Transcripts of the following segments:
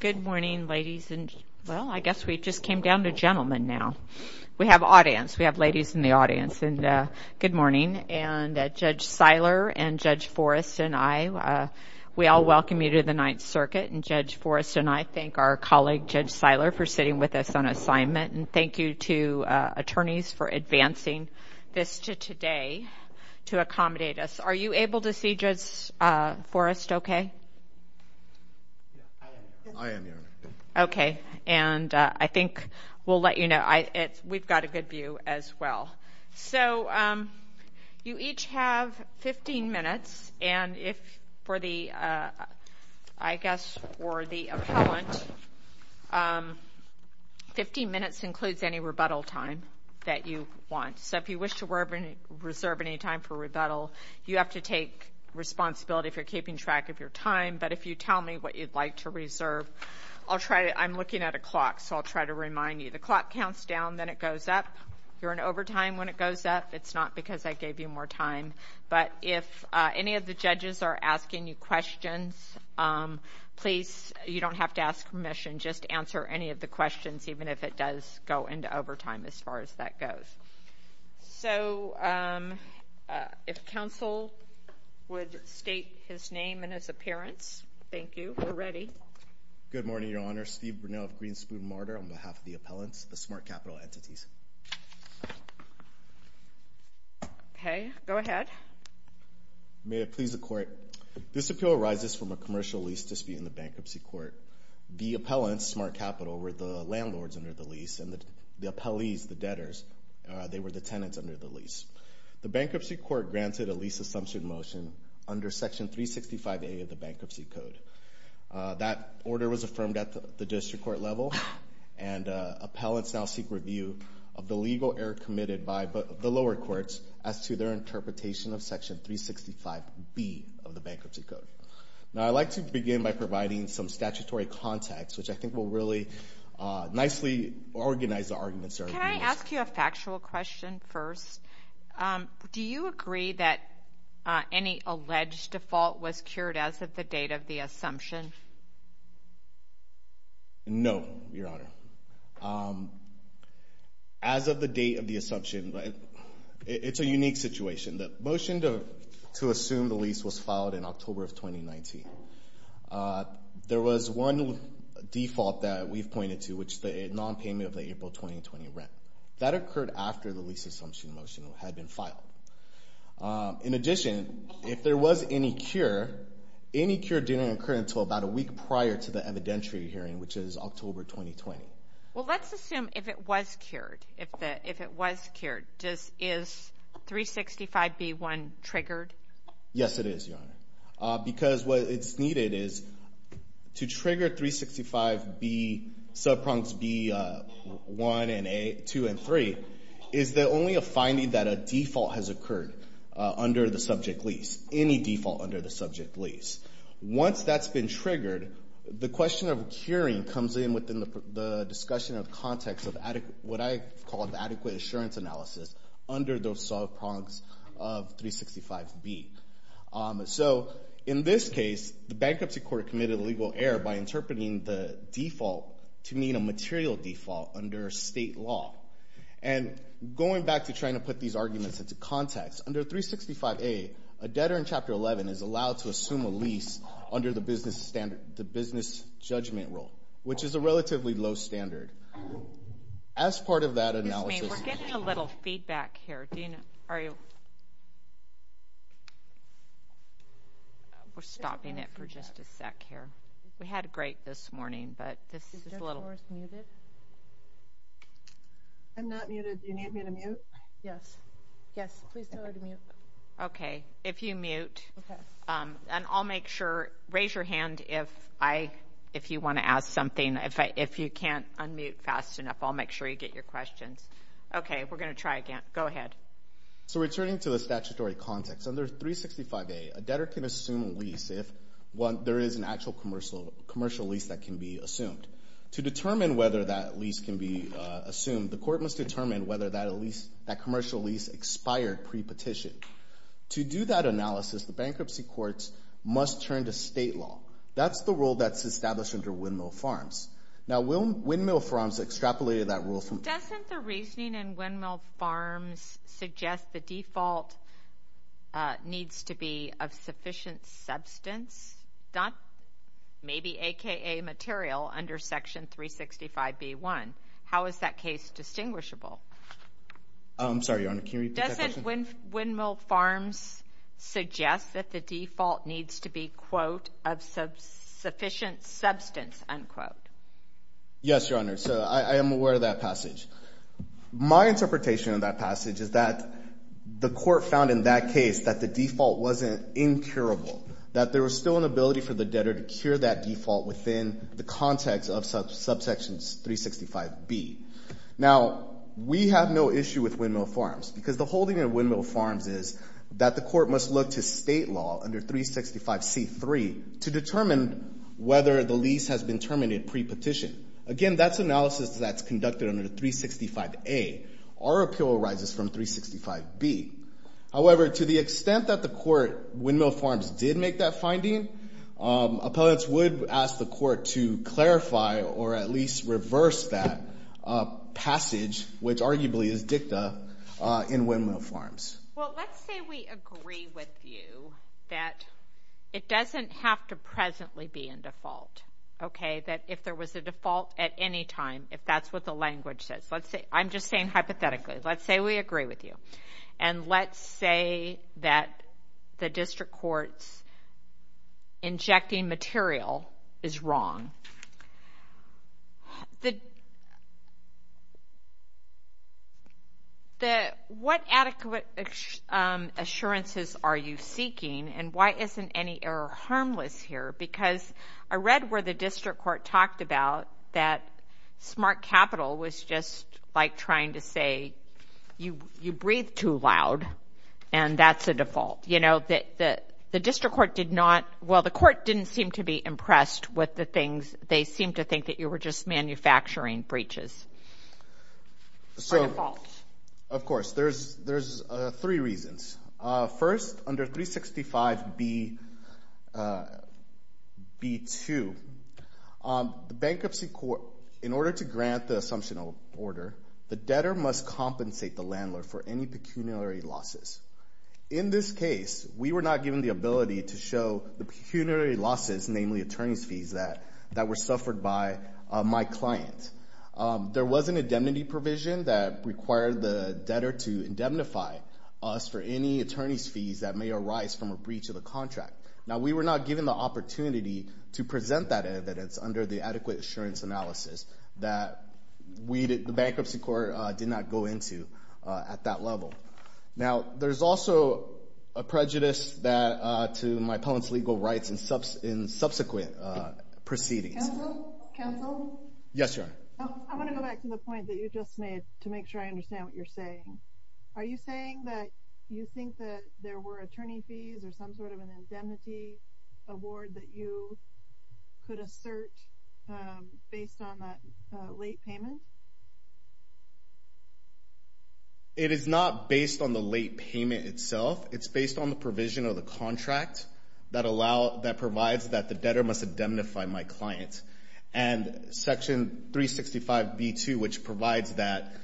Good morning, ladies and, well, I guess we just came down to gentlemen now. We have audience. We have ladies in the audience, and good morning. And Judge Seiler and Judge Forrest and I, we all welcome you to the Ninth Circuit. And Judge Forrest and I thank our colleague, Judge Seiler, for sitting with us on assignment. And thank you to attorneys for advancing this to today to accommodate us. Are you able to see, Judge Forrest, okay? I am, Your Honor. Okay. And I think we'll let you know. We've got a good view as well. So you each have 15 minutes, and if for the, I guess for the appellant, 15 minutes includes any rebuttal time that you want. So if you wish to reserve any time for rebuttal, you have to take responsibility if you're keeping track of your time. But if you tell me what you'd like to reserve, I'll try to, I'm looking at a clock, so I'll try to remind you. The clock counts down, then it goes up. You're in overtime when it goes up. It's not because I gave you more time. But if any of the judges are asking you questions, please, you don't have to ask permission. You can just answer any of the questions, even if it does go into overtime as far as that goes. So if counsel would state his name and his appearance. Thank you. We're ready. Good morning, Your Honor. Steve Brunel of Greenspoon Martyr on behalf of the appellants, the smart capital entities. Okay. Go ahead. May it please the Court. This appeal arises from a commercial lease dispute in the bankruptcy court. The appellants, smart capital, were the landlords under the lease, and the appellees, the debtors, they were the tenants under the lease. The bankruptcy court granted a lease assumption motion under Section 365A of the Bankruptcy Code. That order was affirmed at the district court level, and appellants now seek review of the legal error committed by the lower courts as to their interpretation of Section 365B of the Bankruptcy Code. Now, I'd like to begin by providing some statutory context, which I think will really nicely organize the arguments. Can I ask you a factual question first? Do you agree that any alleged default was cured as of the date of the assumption? No, Your Honor. As of the date of the assumption, it's a unique situation. The motion to assume the lease was filed in October of 2019. There was one default that we've pointed to, which is the nonpayment of the April 2020 rent. That occurred after the lease assumption motion had been filed. In addition, if there was any cure, any cure didn't occur until about a week prior to the evidentiary hearing, which is October 2020. Well, let's assume if it was cured. If it was cured, is 365B1 triggered? Yes, it is, Your Honor, because what is needed is to trigger 365B, subprongs B1 and A, 2 and 3, is only a finding that a default has occurred under the subject lease, any default under the subject lease. Once that's been triggered, the question of curing comes in within the discussion of context of what I call adequate assurance analysis under those subprongs of 365B. So in this case, the bankruptcy court committed a legal error by interpreting the default to mean a material default under state law. And going back to trying to put these arguments into context, under 365A, a debtor in Chapter 11 is allowed to assume a lease under the business judgment rule, which is a relatively low standard. As part of that analysis— Excuse me, we're getting a little feedback here. We're stopping it for just a sec here. We had great this morning, but this is a little— Is Judge Morris muted? I'm not muted. Do you need me to mute? Yes. Yes, please tell her to mute. Okay, if you mute. And I'll make sure—raise your hand if you want to ask something. If you can't unmute fast enough, I'll make sure you get your questions. Okay, we're going to try again. Go ahead. So returning to the statutory context, under 365A, a debtor can assume a lease if there is an actual commercial lease that can be assumed. To determine whether that lease can be assumed, the court must determine whether that commercial lease expired pre-petition. To do that analysis, the bankruptcy courts must turn to state law. That's the rule that's established under Windmill Farms. Now, Windmill Farms extrapolated that rule from— Doesn't the reasoning in Windmill Farms suggest the default needs to be of sufficient substance? Maybe a.k.a. material under Section 365b.1. How is that case distinguishable? I'm sorry, Your Honor. Can you repeat that question? Doesn't Windmill Farms suggest that the default needs to be, quote, of sufficient substance, unquote? Yes, Your Honor. So I am aware of that passage. My interpretation of that passage is that the court found in that case that the default wasn't incurable, that there was still an ability for the debtor to cure that default within the context of subsection 365b. Now, we have no issue with Windmill Farms because the holding of Windmill Farms is that the court must look to state law under 365c.3 to determine whether the lease has been terminated pre-petition. Again, that's analysis that's conducted under 365a. Our appeal arises from 365b. However, to the extent that the court, Windmill Farms, did make that finding, appellants would ask the court to clarify or at least reverse that passage, which arguably is dicta in Windmill Farms. Well, let's say we agree with you that it doesn't have to presently be in default, okay, that if there was a default at any time, if that's what the language says. I'm just saying hypothetically. Let's say we agree with you, and let's say that the district court's injecting material is wrong. What adequate assurances are you seeking, and why isn't any error harmless here? Because I read where the district court talked about that smart capital was just like trying to say you breathe too loud, and that's a default. You know, the district court did not – well, the court didn't seem to be impressed with the things. They seemed to think that you were just manufacturing breaches or defaults. Of course. There's three reasons. First, under 365b.2, the bankruptcy court, in order to grant the assumption of order, the debtor must compensate the landlord for any pecuniary losses. In this case, we were not given the ability to show the pecuniary losses, namely attorney's fees, that were suffered by my client. There was an indemnity provision that required the debtor to indemnify us for any attorney's fees that may arise from a breach of the contract. Now, we were not given the opportunity to present that evidence under the adequate assurance analysis that the bankruptcy court did not go into at that level. Now, there's also a prejudice to my opponent's legal rights in subsequent proceedings. Counsel? Counsel? Yes, Your Honor. I want to go back to the point that you just made to make sure I understand what you're saying. Are you saying that you think that there were attorney fees or some sort of an indemnity award that you could assert based on that late payment? It is not based on the late payment itself. It's based on the provision of the contract that provides that the debtor must indemnify my client. And Section 365b.2, which provides that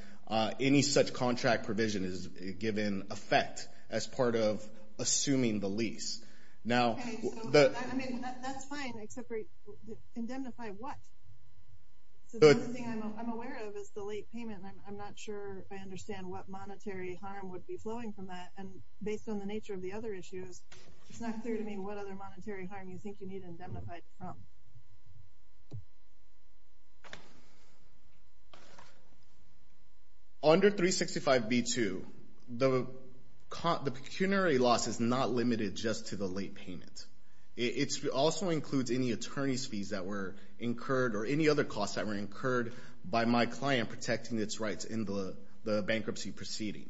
any such contract provision is given effect as part of assuming the lease. That's fine, except indemnify what? The only thing I'm aware of is the late payment, and I'm not sure I understand what monetary harm would be flowing from that. And based on the nature of the other issues, it's not clear to me what other monetary harm you think you need to indemnify from. Under 365b.2, the pecuniary loss is not limited just to the late payment. It also includes any attorney's fees that were incurred or any other costs that were incurred by my client protecting its rights in the bankruptcy proceeding.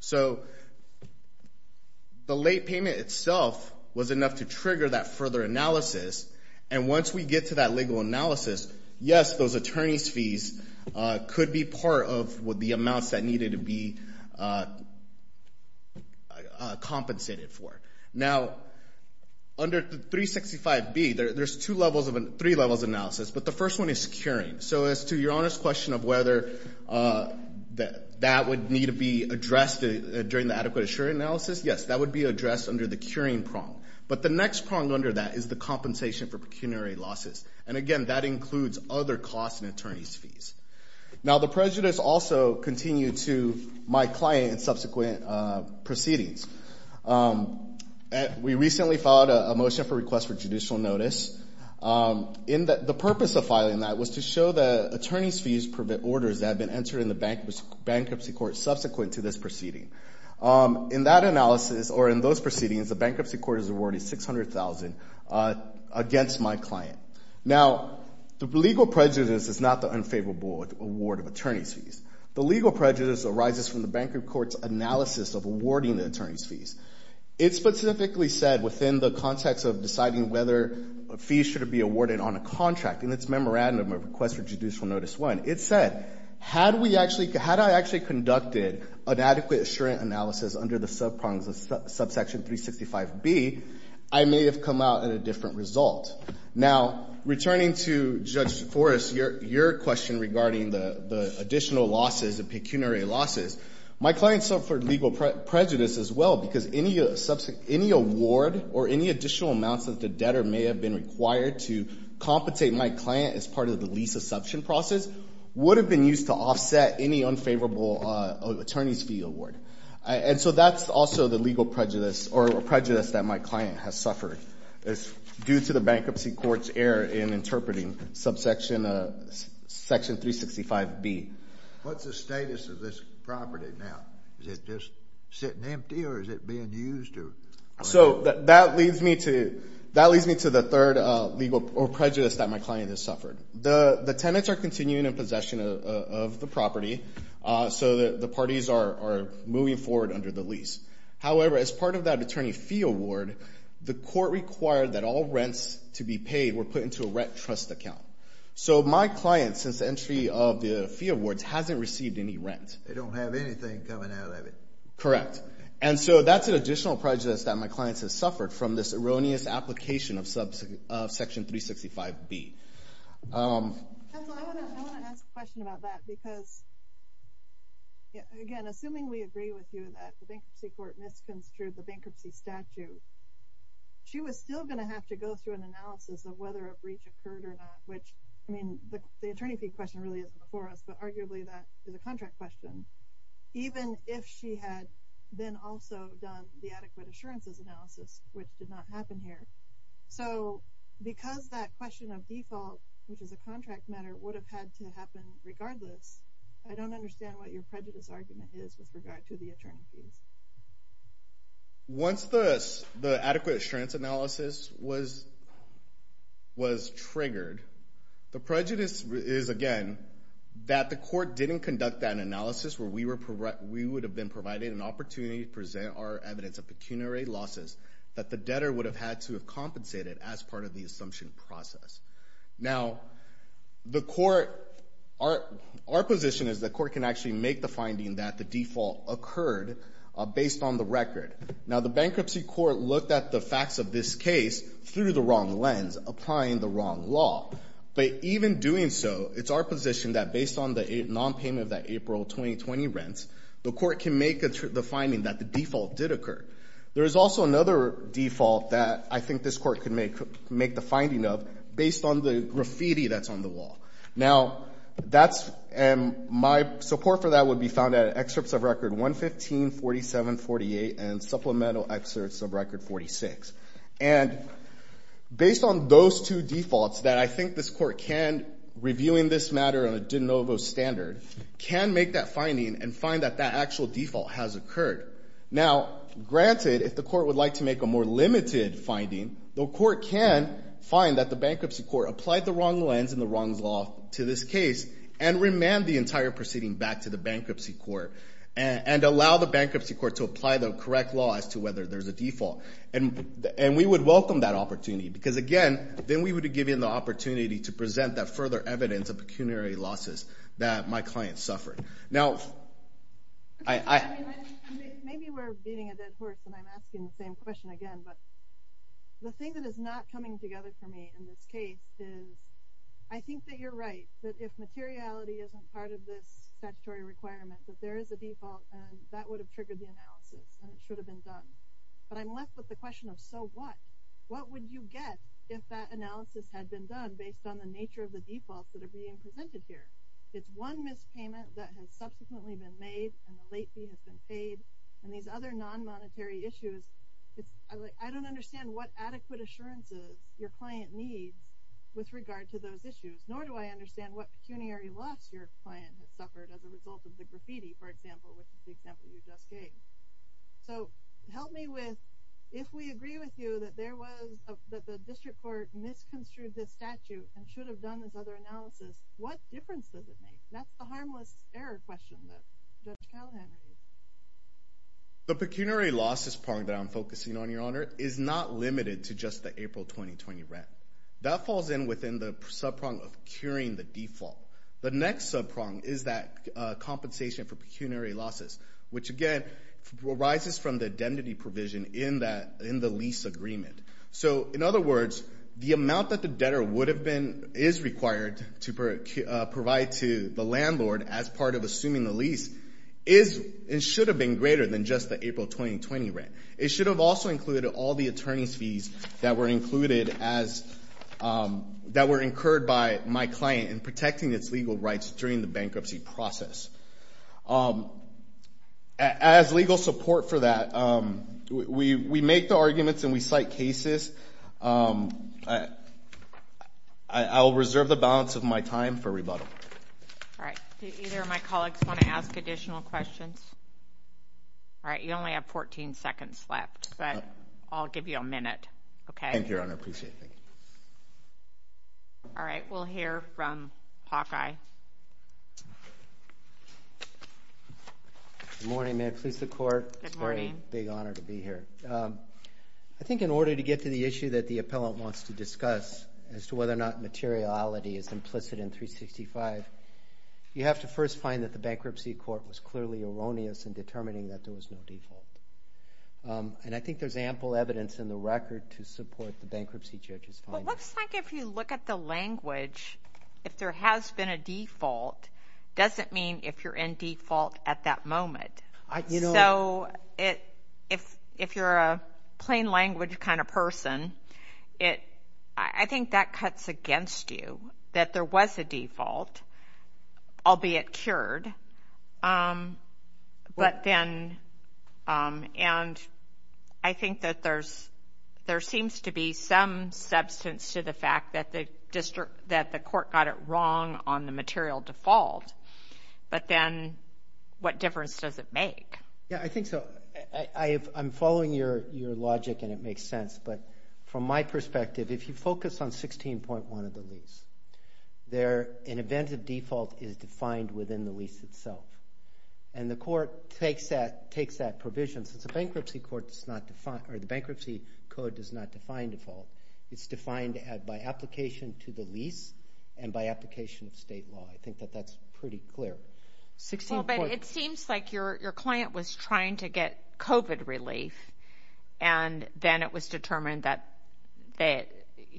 So the late payment itself was enough to trigger that further analysis, and once we get to that legal analysis, yes, those attorney's fees could be part of the amounts that needed to be compensated for. Now, under 365b.2, there's three levels of analysis, but the first one is curing. So as to your honest question of whether that would need to be addressed during the adequate assuring analysis, yes, that would be addressed under the curing prong. But the next prong under that is the compensation for pecuniary losses. And again, that includes other costs and attorney's fees. Now, the prejudice also continued to my client in subsequent proceedings. We recently filed a motion for request for judicial notice. The purpose of filing that was to show that attorney's fees prevent orders that have been entered in the bankruptcy court subsequent to this proceeding. In that analysis or in those proceedings, the bankruptcy court has awarded $600,000 against my client. Now, the legal prejudice is not the unfavorable award of attorney's fees. The legal prejudice arises from the bankruptcy court's analysis of awarding the attorney's fees. It specifically said within the context of deciding whether a fee should be awarded on a contract in its memorandum of request for judicial notice one, it said, had I actually conducted an adequate assuring analysis under the subprongs of subsection 365B, I may have come out with a different result. Now, returning to Judge Forrest, your question regarding the additional losses, the pecuniary losses, my client suffered legal prejudice as well because any award or any additional amounts that the debtor may have been required to compensate my client as part of the lease assumption process would have been used to offset any unfavorable attorney's fee award. And so that's also the legal prejudice or prejudice that my client has suffered due to the bankruptcy court's error in interpreting subsection 365B. What's the status of this property now? Is it just sitting empty or is it being used? So that leads me to the third legal prejudice that my client has suffered. The tenants are continuing in possession of the property so the parties are moving forward under the lease. However, as part of that attorney fee award, the court required that all rents to be paid were put into a rent trust account. So my client, since the entry of the fee awards, hasn't received any rent. They don't have anything coming out of it. Correct. And so that's an additional prejudice that my client has suffered from this erroneous application of section 365B. I want to ask a question about that because, again, assuming we agree with you that the bankruptcy court misconstrued the bankruptcy statute, she was still going to have to go through an analysis of whether a breach occurred or not, which, I mean, the attorney fee question really isn't before us, but arguably that is a contract question. Even if she had then also done the adequate assurances analysis, which did not happen here. So because that question of default, which is a contract matter, would have had to happen regardless, I don't understand what your prejudice argument is with regard to the attorney fees. Once the adequate assurance analysis was triggered, the prejudice is, again, that the court didn't conduct that analysis where we would have been provided an opportunity to present our evidence of pecuniary losses that the debtor would have had to have compensated as part of the assumption process. Now, our position is the court can actually make the finding that the default occurred based on the record. Now, the bankruptcy court looked at the facts of this case through the wrong lens, applying the wrong law. But even doing so, it's our position that based on the nonpayment of that April 2020 rent, the court can make the finding that the default did occur. There is also another default that I think this court could make the finding of based on the graffiti that's on the wall. Now, that's my support for that would be found at excerpts of record 115, 47, 48, and supplemental excerpts of record 46. And based on those two defaults that I think this court can, reviewing this matter on a de novo standard, can make that finding and find that that actual default has occurred. Now, granted, if the court would like to make a more limited finding, the court can find that the bankruptcy court applied the wrong lens and the wrong law to this case and remand the entire proceeding back to the bankruptcy court and allow the bankruptcy court to apply the correct law as to whether there's a default. And we would welcome that opportunity because, again, then we would have given the opportunity to present that further evidence of pecuniary losses that my client suffered. Now, I... Maybe we're beating a dead horse and I'm asking the same question again, but the thing that is not coming together for me in this case is I think that you're right, that if materiality isn't part of this statutory requirement, that there is a default and that would have triggered the analysis and it should have been done. But I'm left with the question of so what? What would you get if that analysis had been done based on the nature of the defaults that are being presented here? It's one mispayment that has subsequently been made and the late fee has been paid. And these other non-monetary issues, I don't understand what adequate assurances your client needs with regard to those issues, nor do I understand what pecuniary loss your client has suffered as a result of the graffiti, for example, which is the example you just gave. So help me with if we agree with you that the district court misconstrued this statute and should have done this other analysis, what difference does it make? That's the harmless error question that Judge Callahan raised. The pecuniary losses part that I'm focusing on, Your Honor, is not limited to just the April 2020 rent. That falls in within the subprong of curing the default. The next subprong is that compensation for pecuniary losses, which, again, arises from the indemnity provision in the lease agreement. So, in other words, the amount that the debtor is required to provide to the landlord as part of assuming the lease should have been greater than just the April 2020 rent. It should have also included all the attorney's fees that were incurred by my client in protecting its legal rights during the bankruptcy process. As legal support for that, we make the arguments and we cite cases. I will reserve the balance of my time for rebuttal. All right. Do either of my colleagues want to ask additional questions? All right. You only have 14 seconds left, but I'll give you a minute. Thank you, Your Honor. I appreciate it. All right. We'll hear from Hawkeye. Good morning, ma'am. Please, the Court. It's a very big honor to be here. I think in order to get to the issue that the appellant wants to discuss as to whether or not materiality is implicit in 365, you have to first find that the bankruptcy court was clearly erroneous in determining that there was no default. And I think there's ample evidence in the record to support the bankruptcy judge's findings. Well, it looks like if you look at the language, if there has been a default, it doesn't mean if you're in default at that moment. So if you're a plain language kind of person, I think that cuts against you that there was a default, albeit cured. But then, and I think that there seems to be some substance to the fact that the court got it wrong on the material default, but then what difference does it make? Yeah, I think so. I'm following your logic and it makes sense, but from my perspective, if you focus on 16.1 of the lease, an event of default is defined within the lease itself. And the court takes that provision. Since the bankruptcy court does not define, or the bankruptcy code does not define default, it's defined by application to the lease and by application of state law. I think that that's pretty clear. Well, but it seems like your client was trying to get COVID relief and then it was determined that they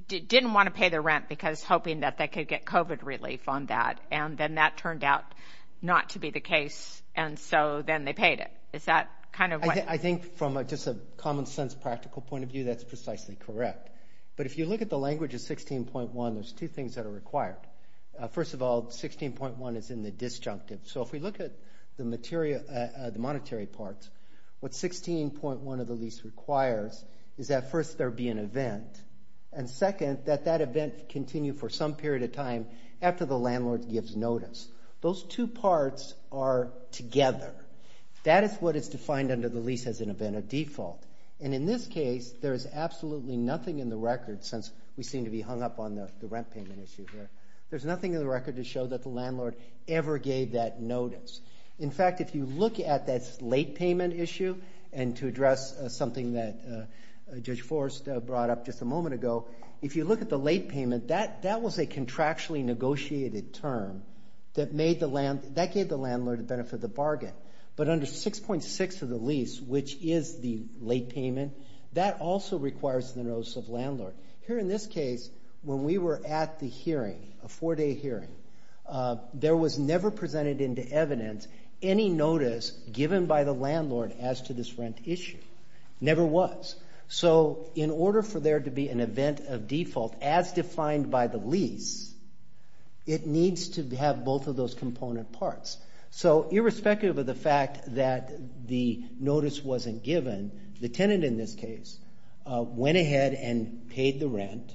didn't want to pay the rent because hoping that they could get COVID relief on that. And then that turned out not to be the case and so then they paid it. I think from just a common sense practical point of view, that's precisely correct. But if you look at the language of 16.1, there's two things that are required. First of all, 16.1 is in the disjunctive. So if we look at the monetary parts, what 16.1 of the lease requires is that first there be an event and second, that that event continue for some period of time after the landlord gives notice. That is what is defined under the lease as an event of default. And in this case, there is absolutely nothing in the record since we seem to be hung up on the rent payment issue here. There's nothing in the record to show that the landlord ever gave that notice. In fact, if you look at that late payment issue and to address something that Judge Forrest brought up just a moment ago, if you look at the late payment, that was a contractually negotiated term that gave the landlord the benefit of the bargain. But under 6.6 of the lease, which is the late payment, that also requires the notice of landlord. Here in this case, when we were at the hearing, a four-day hearing, there was never presented into evidence any notice given by the landlord as to this rent issue. Never was. So in order for there to be an event of default as defined by the lease, it needs to have both of those component parts. So irrespective of the fact that the notice wasn't given, the tenant in this case went ahead and paid the rent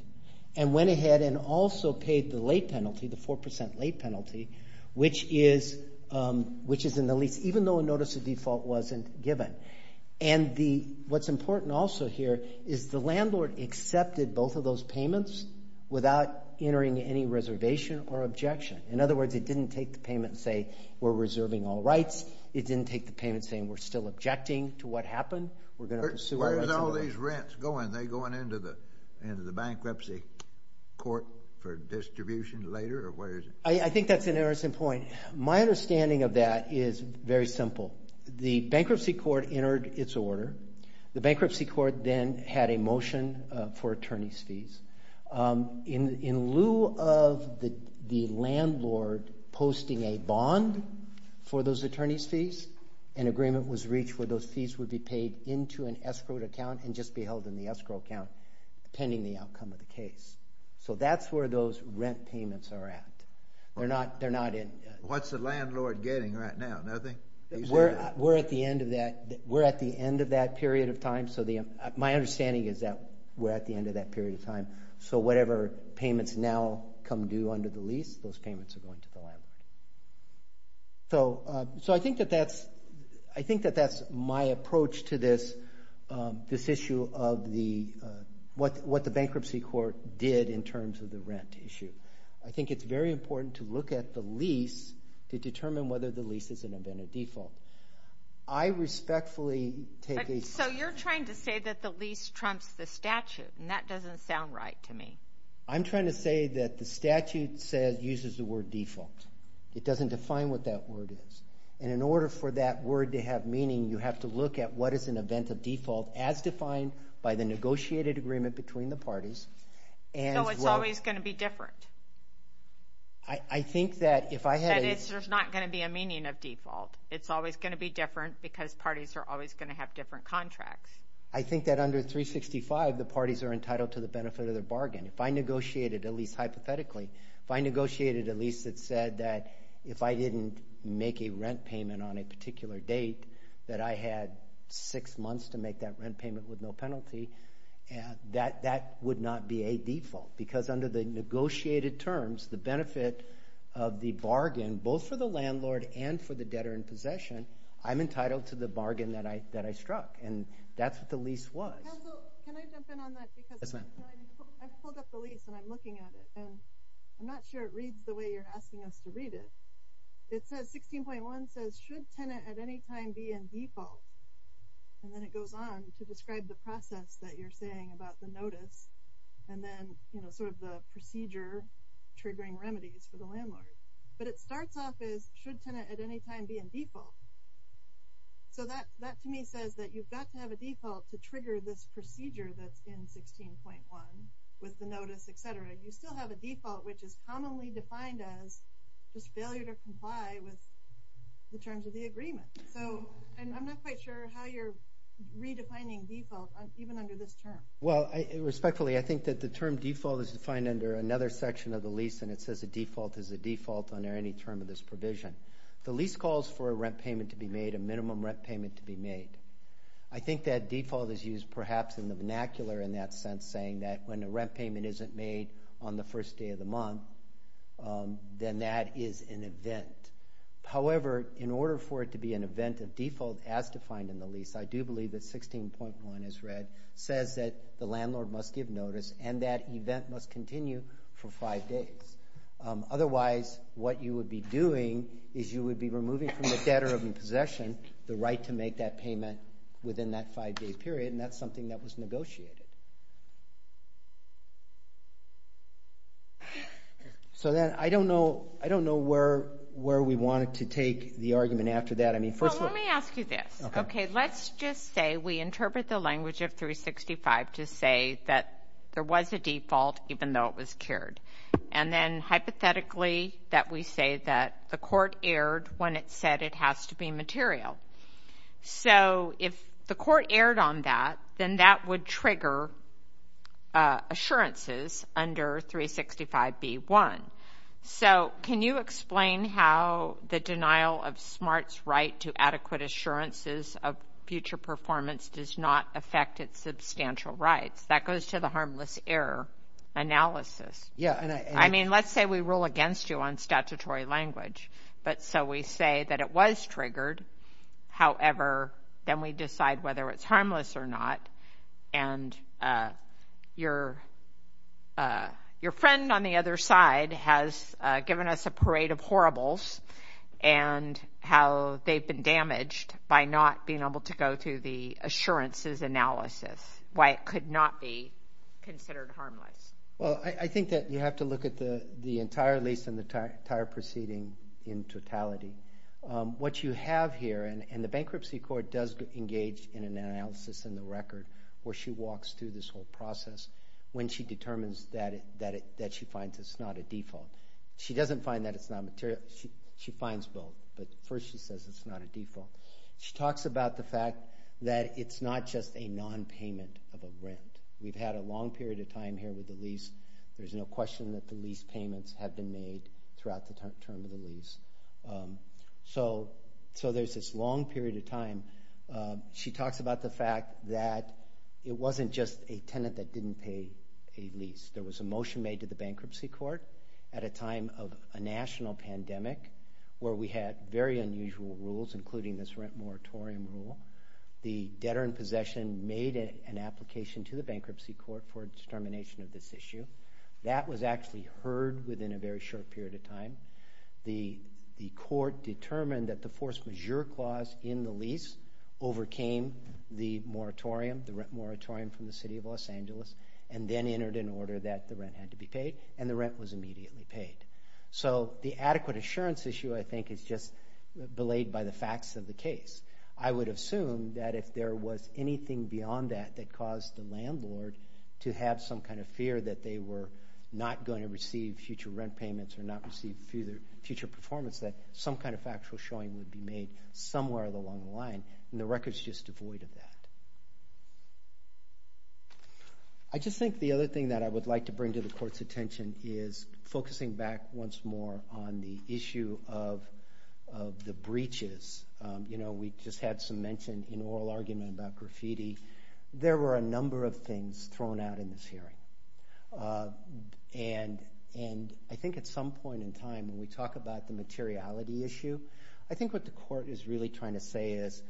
and went ahead and also paid the late penalty, the 4% late penalty, which is in the lease, even though a notice of default wasn't given. And what's important also here is the landlord accepted both of those payments without entering any reservation or objection. In other words, it didn't take the payment and say, we're reserving all rights. It didn't take the payment saying, we're still objecting to what happened. We're going to pursue all rights. Where's all these rents going? Are they going into the bankruptcy court for distribution later, or where is it? I think that's an interesting point. My understanding of that is very simple. The bankruptcy court entered its order. The bankruptcy court then had a motion for attorneys' fees. In lieu of the landlord posting a bond for those attorneys' fees, an agreement was reached where those fees would be paid into an escrowed account and just be held in the escrow account pending the outcome of the case. So that's where those rent payments are at. They're not in... What's the landlord getting right now? Nothing? We're at the end of that period of time. My understanding is that we're at the end of that period of time. So whatever payments now come due under the lease, those payments are going to the landlord. So I think that that's my approach to this issue of what the bankruptcy court did in terms of the rent issue. I think it's very important to look at the lease to determine whether the lease is an event of default. I respectfully take a... So you're trying to say that the lease trumps the statute, and that doesn't sound right to me. I'm trying to say that the statute uses the word default. It doesn't define what that word is. And in order for that word to have meaning, you have to look at what is an event of default as defined by the negotiated agreement between the parties. So it's always going to be different. I think that if I had... That there's not going to be a meaning of default. It's always going to be different because parties are always going to have different contracts. I think that under 365, the parties are entitled to the benefit of their bargain. If I negotiated, at least hypothetically, if I negotiated a lease that said that if I didn't make a rent payment on a particular date, that I had six months to make that rent payment with no penalty, that would not be a default because under the negotiated terms, the benefit of the bargain, both for the landlord and for the debtor in possession, I'm entitled to the bargain that I struck, and that's what the lease was. Council, can I jump in on that? Because I pulled up the lease and I'm looking at it and I'm not sure it reads the way you're asking us to read it. It says 16.1 says, should tenant at any time be in default? And then it goes on to describe the process that you're saying about the notice and then sort of the procedure triggering remedies for the landlord. But it starts off as, should tenant at any time be in default? So that to me says that you've got to have a default to trigger this procedure that's in 16.1 with the notice, et cetera. You still have a default which is commonly defined as just failure to comply with the terms of the agreement. And I'm not quite sure how you're redefining default even under this term. Well, respectfully, I think that the term default is defined under another section of the lease and it says a default is a default under any term of this provision. The lease calls for a rent payment to be made, a minimum rent payment to be made. I think that default is used perhaps in the vernacular in that sense saying that when a rent payment isn't made on the first day of the month, then that is an event. However, in order for it to be an event of default as defined in the lease, I do believe that 16.1 as read says that the landlord must give notice and that event must continue for five days. Otherwise, what you would be doing is you would be removing from the debtor in possession the right to make that payment within that five-day period and that's something that was negotiated. So then I don't know where we wanted to take the argument after that. Well, let me ask you this. Okay, let's just say we interpret the language of 365 to say that there was a default even though it was cured. And then hypothetically that we say that the court erred when it said it has to be material. So if the court erred on that, then that would trigger assurances under 365b1. So can you explain how the denial of SMART's right to adequate assurances of future performance does not affect its substantial rights? That goes to the harmless error analysis. I mean, let's say we rule against you on statutory language, but so we say that it was triggered. However, then we decide whether it's harmless or not. And your friend on the other side has given us a parade of horribles and how they've been damaged by not being able to go through the assurances analysis, why it could not be considered harmless. Well, I think that you have to look at the entire lease and the entire proceeding in totality. What you have here, and the bankruptcy court does engage in an analysis in the record where she walks through this whole process when she determines that she finds it's not a default. She doesn't find that it's not material. She finds both, but first she says it's not a default. She talks about the fact that it's not just a nonpayment of a rent. We've had a long period of time here with the lease. There's no question that the lease payments have been made throughout the term of the lease. So there's this long period of time. She talks about the fact that it wasn't just a tenant that didn't pay a lease. There was a motion made to the bankruptcy court at a time of a national pandemic where we had very unusual rules, including this rent moratorium rule. The debtor in possession made an application to the bankruptcy court for a determination of this issue. That was actually heard within a very short period of time. The court determined that the force majeure clause in the lease overcame the rent moratorium from the city of Los Angeles and then entered an order that the rent had to be paid, and the rent was immediately paid. So the adequate assurance issue, I think, is just belayed by the facts of the case. I would assume that if there was anything beyond that that caused the landlord to have some kind of fear that they were not going to receive future rent payments or not receive future performance, that some kind of factual showing would be made somewhere along the line, and the record's just devoid of that. I just think the other thing that I would like to bring to the court's attention is focusing back once more on the issue of the breaches. We just had some mention in oral argument about graffiti. There were a number of things thrown out in this hearing, and I think at some point in time, when we talk about the materiality issue, I think what the court is really trying to say is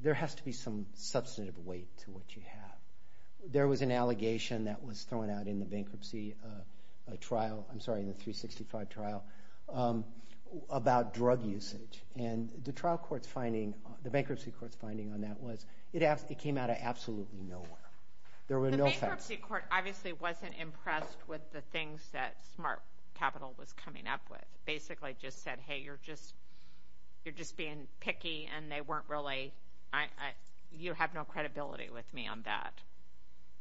there has to be some substantive weight to what you have. There was an allegation that was thrown out in the bankruptcy trial, I'm sorry, in the 365 trial, about drug usage, and the bankruptcy court's finding on that was it came out of absolutely nowhere. The bankruptcy court obviously wasn't impressed with the things that Smart Capital was coming up with. It basically just said, hey, you're just being picky, and you have no credibility with me on that.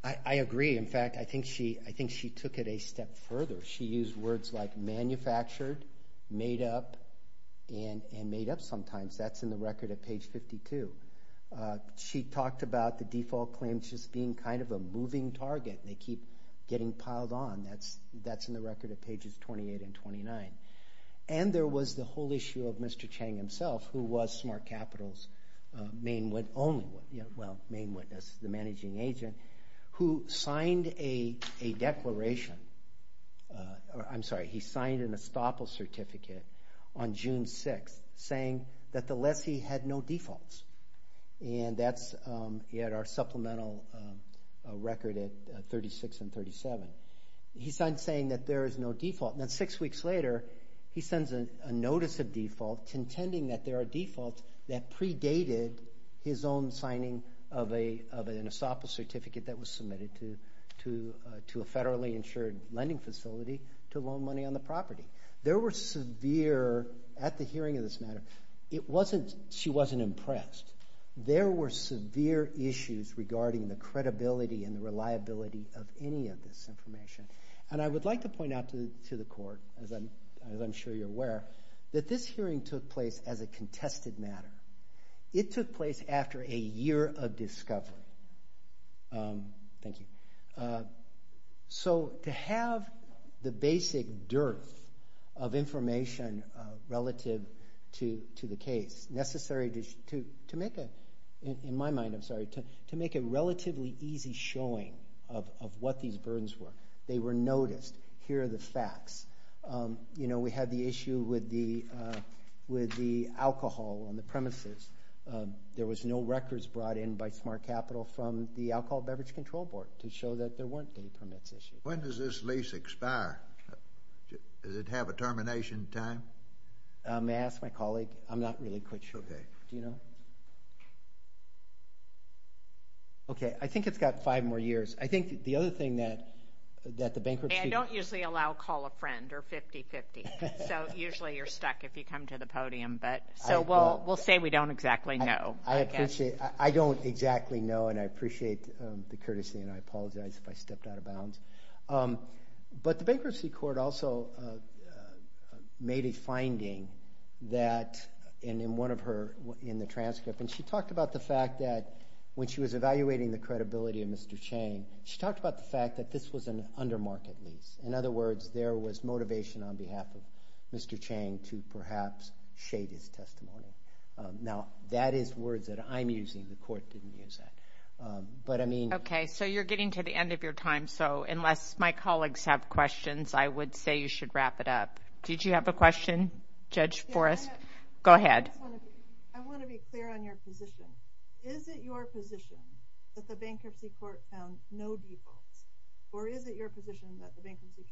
I agree. In fact, I think she took it a step further. She used words like manufactured, made up, and made up sometimes. That's in the record at page 52. She talked about the default claims just being kind of a moving target. They keep getting piled on. That's in the record at pages 28 and 29. And there was the whole issue of Mr. Chang himself, who was Smart Capital's main witness, the managing agent, who signed a declaration. I'm sorry, he signed an estoppel certificate on June 6th saying that the lessee had no defaults. And that's at our supplemental record at 36 and 37. He signed saying that there is no default. And then six weeks later, he sends a notice of default intending that there are defaults that predated his own signing of an estoppel certificate that was submitted to a federally insured lending facility to loan money on the property. At the hearing of this matter, she wasn't impressed. There were severe issues regarding the credibility and the reliability of any of this information. And I would like to point out to the court, as I'm sure you're aware, that this hearing took place as a contested matter. It took place after a year of discovery. Thank you. So to have the basic dearth of information relative to the case, necessary to make a relatively easy showing of what these burdens were, they were noticed. Here are the facts. We had the issue with the alcohol on the premises. There was no records brought in by Smart Capital from the Alcohol Beverage Control Board to show that there weren't any permits issues. When does this lease expire? Does it have a termination time? May I ask my colleague? I'm not really quite sure. Okay. Do you know? Okay. I think it's got five more years. I think the other thing that the bankruptcy— I don't usually allow call a friend or 50-50. So usually you're stuck if you come to the podium. So we'll say we don't exactly know. I don't exactly know, and I appreciate the courtesy, and I apologize if I stepped out of bounds. But the bankruptcy court also made a finding in the transcript, and she talked about the fact that when she was evaluating the credibility of Mr. Chang, she talked about the fact that this was an under-market lease. In other words, there was motivation on behalf of Mr. Chang to perhaps shade his testimony. Now, that is words that I'm using. The court didn't use that. But I mean— Okay. So you're getting to the end of your time. So unless my colleagues have questions, I would say you should wrap it up. Did you have a question, Judge Forrest? Go ahead. I want to be clear on your position. Is it your position that the bankruptcy court found no defaults, or is it your position that the bankruptcy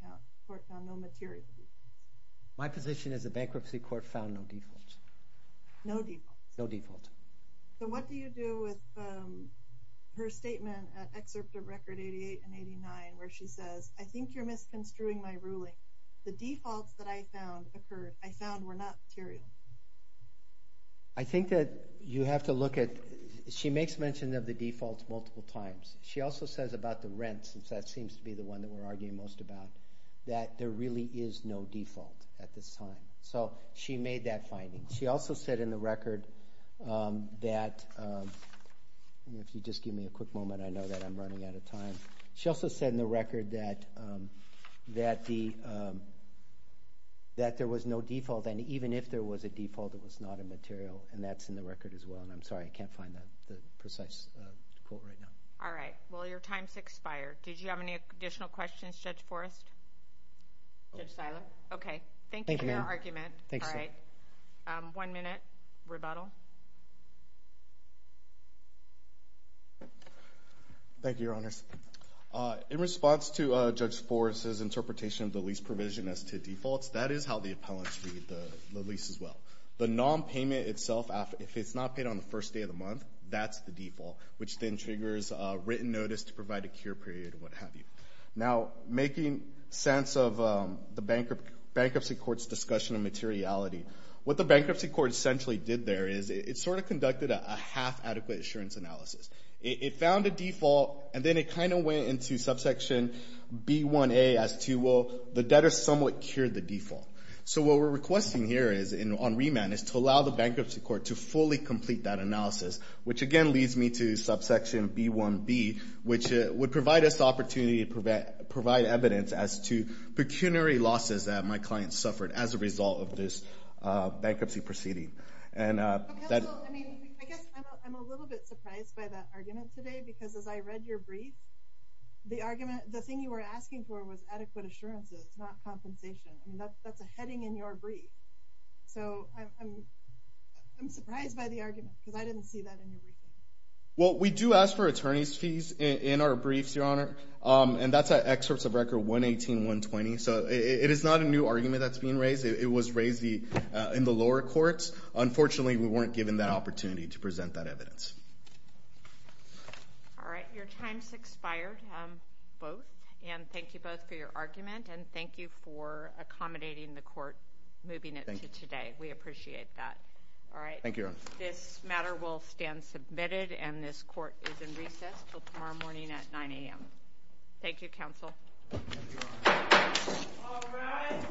court found no material defaults? My position is the bankruptcy court found no defaults. No defaults? No defaults. So what do you do with her statement, excerpt of Record 88 and 89, where she says, I think you're misconstruing my ruling. The defaults that I found occurred—I found were not material. I think that you have to look at—she makes mention of the defaults multiple times. She also says about the rent, since that seems to be the one that we're arguing most about, that there really is no default at this time. So she made that finding. She also said in the record that—if you just give me a quick moment, I know that I'm running out of time. She also said in the record that there was no default, and even if there was a default, it was not a material, and that's in the record as well. And I'm sorry, I can't find the precise quote right now. All right. Well, your time's expired. Did you have any additional questions, Judge Forrest? Judge Seiler? Okay. Thank you for your argument. All right. One minute, rebuttal. Thank you, Your Honors. In response to Judge Forrest's interpretation of the lease provision as to defaults, that is how the appellants read the lease as well. The nonpayment itself, if it's not paid on the first day of the month, that's the default, which then triggers a written notice to provide a cure period and what have you. Now, making sense of the Bankruptcy Court's discussion of materiality, what the Bankruptcy Court essentially did there is it sort of conducted a half-adequate assurance analysis. It found a default, and then it kind of went into subsection B1a as to, well, the debtor somewhat cured the default. So what we're requesting here on remand is to allow the Bankruptcy Court to fully complete that analysis, which again leads me to subsection B1b, which would provide us the opportunity to provide evidence as to pecuniary losses that my client suffered as a result of this bankruptcy proceeding. Counsel, I mean, I guess I'm a little bit surprised by that argument today, because as I read your brief, the argument, the thing you were asking for was adequate assurances, not compensation, and that's a heading in your brief. So I'm surprised by the argument, because I didn't see that in your brief. Well, we do ask for attorney's fees in our briefs, Your Honor, and that's at excerpts of Record 118-120. So it is not a new argument that's being raised. It was raised in the lower courts. Unfortunately, we weren't given that opportunity to present that evidence. All right, your time's expired, both. And thank you both for your argument, and thank you for accommodating the court moving it to today. We appreciate that. All right. Thank you, Your Honor. This matter will stand submitted, and this court is in recess until tomorrow morning at 9 a.m. Thank you, Counsel. Thank you, Your Honor. All rise.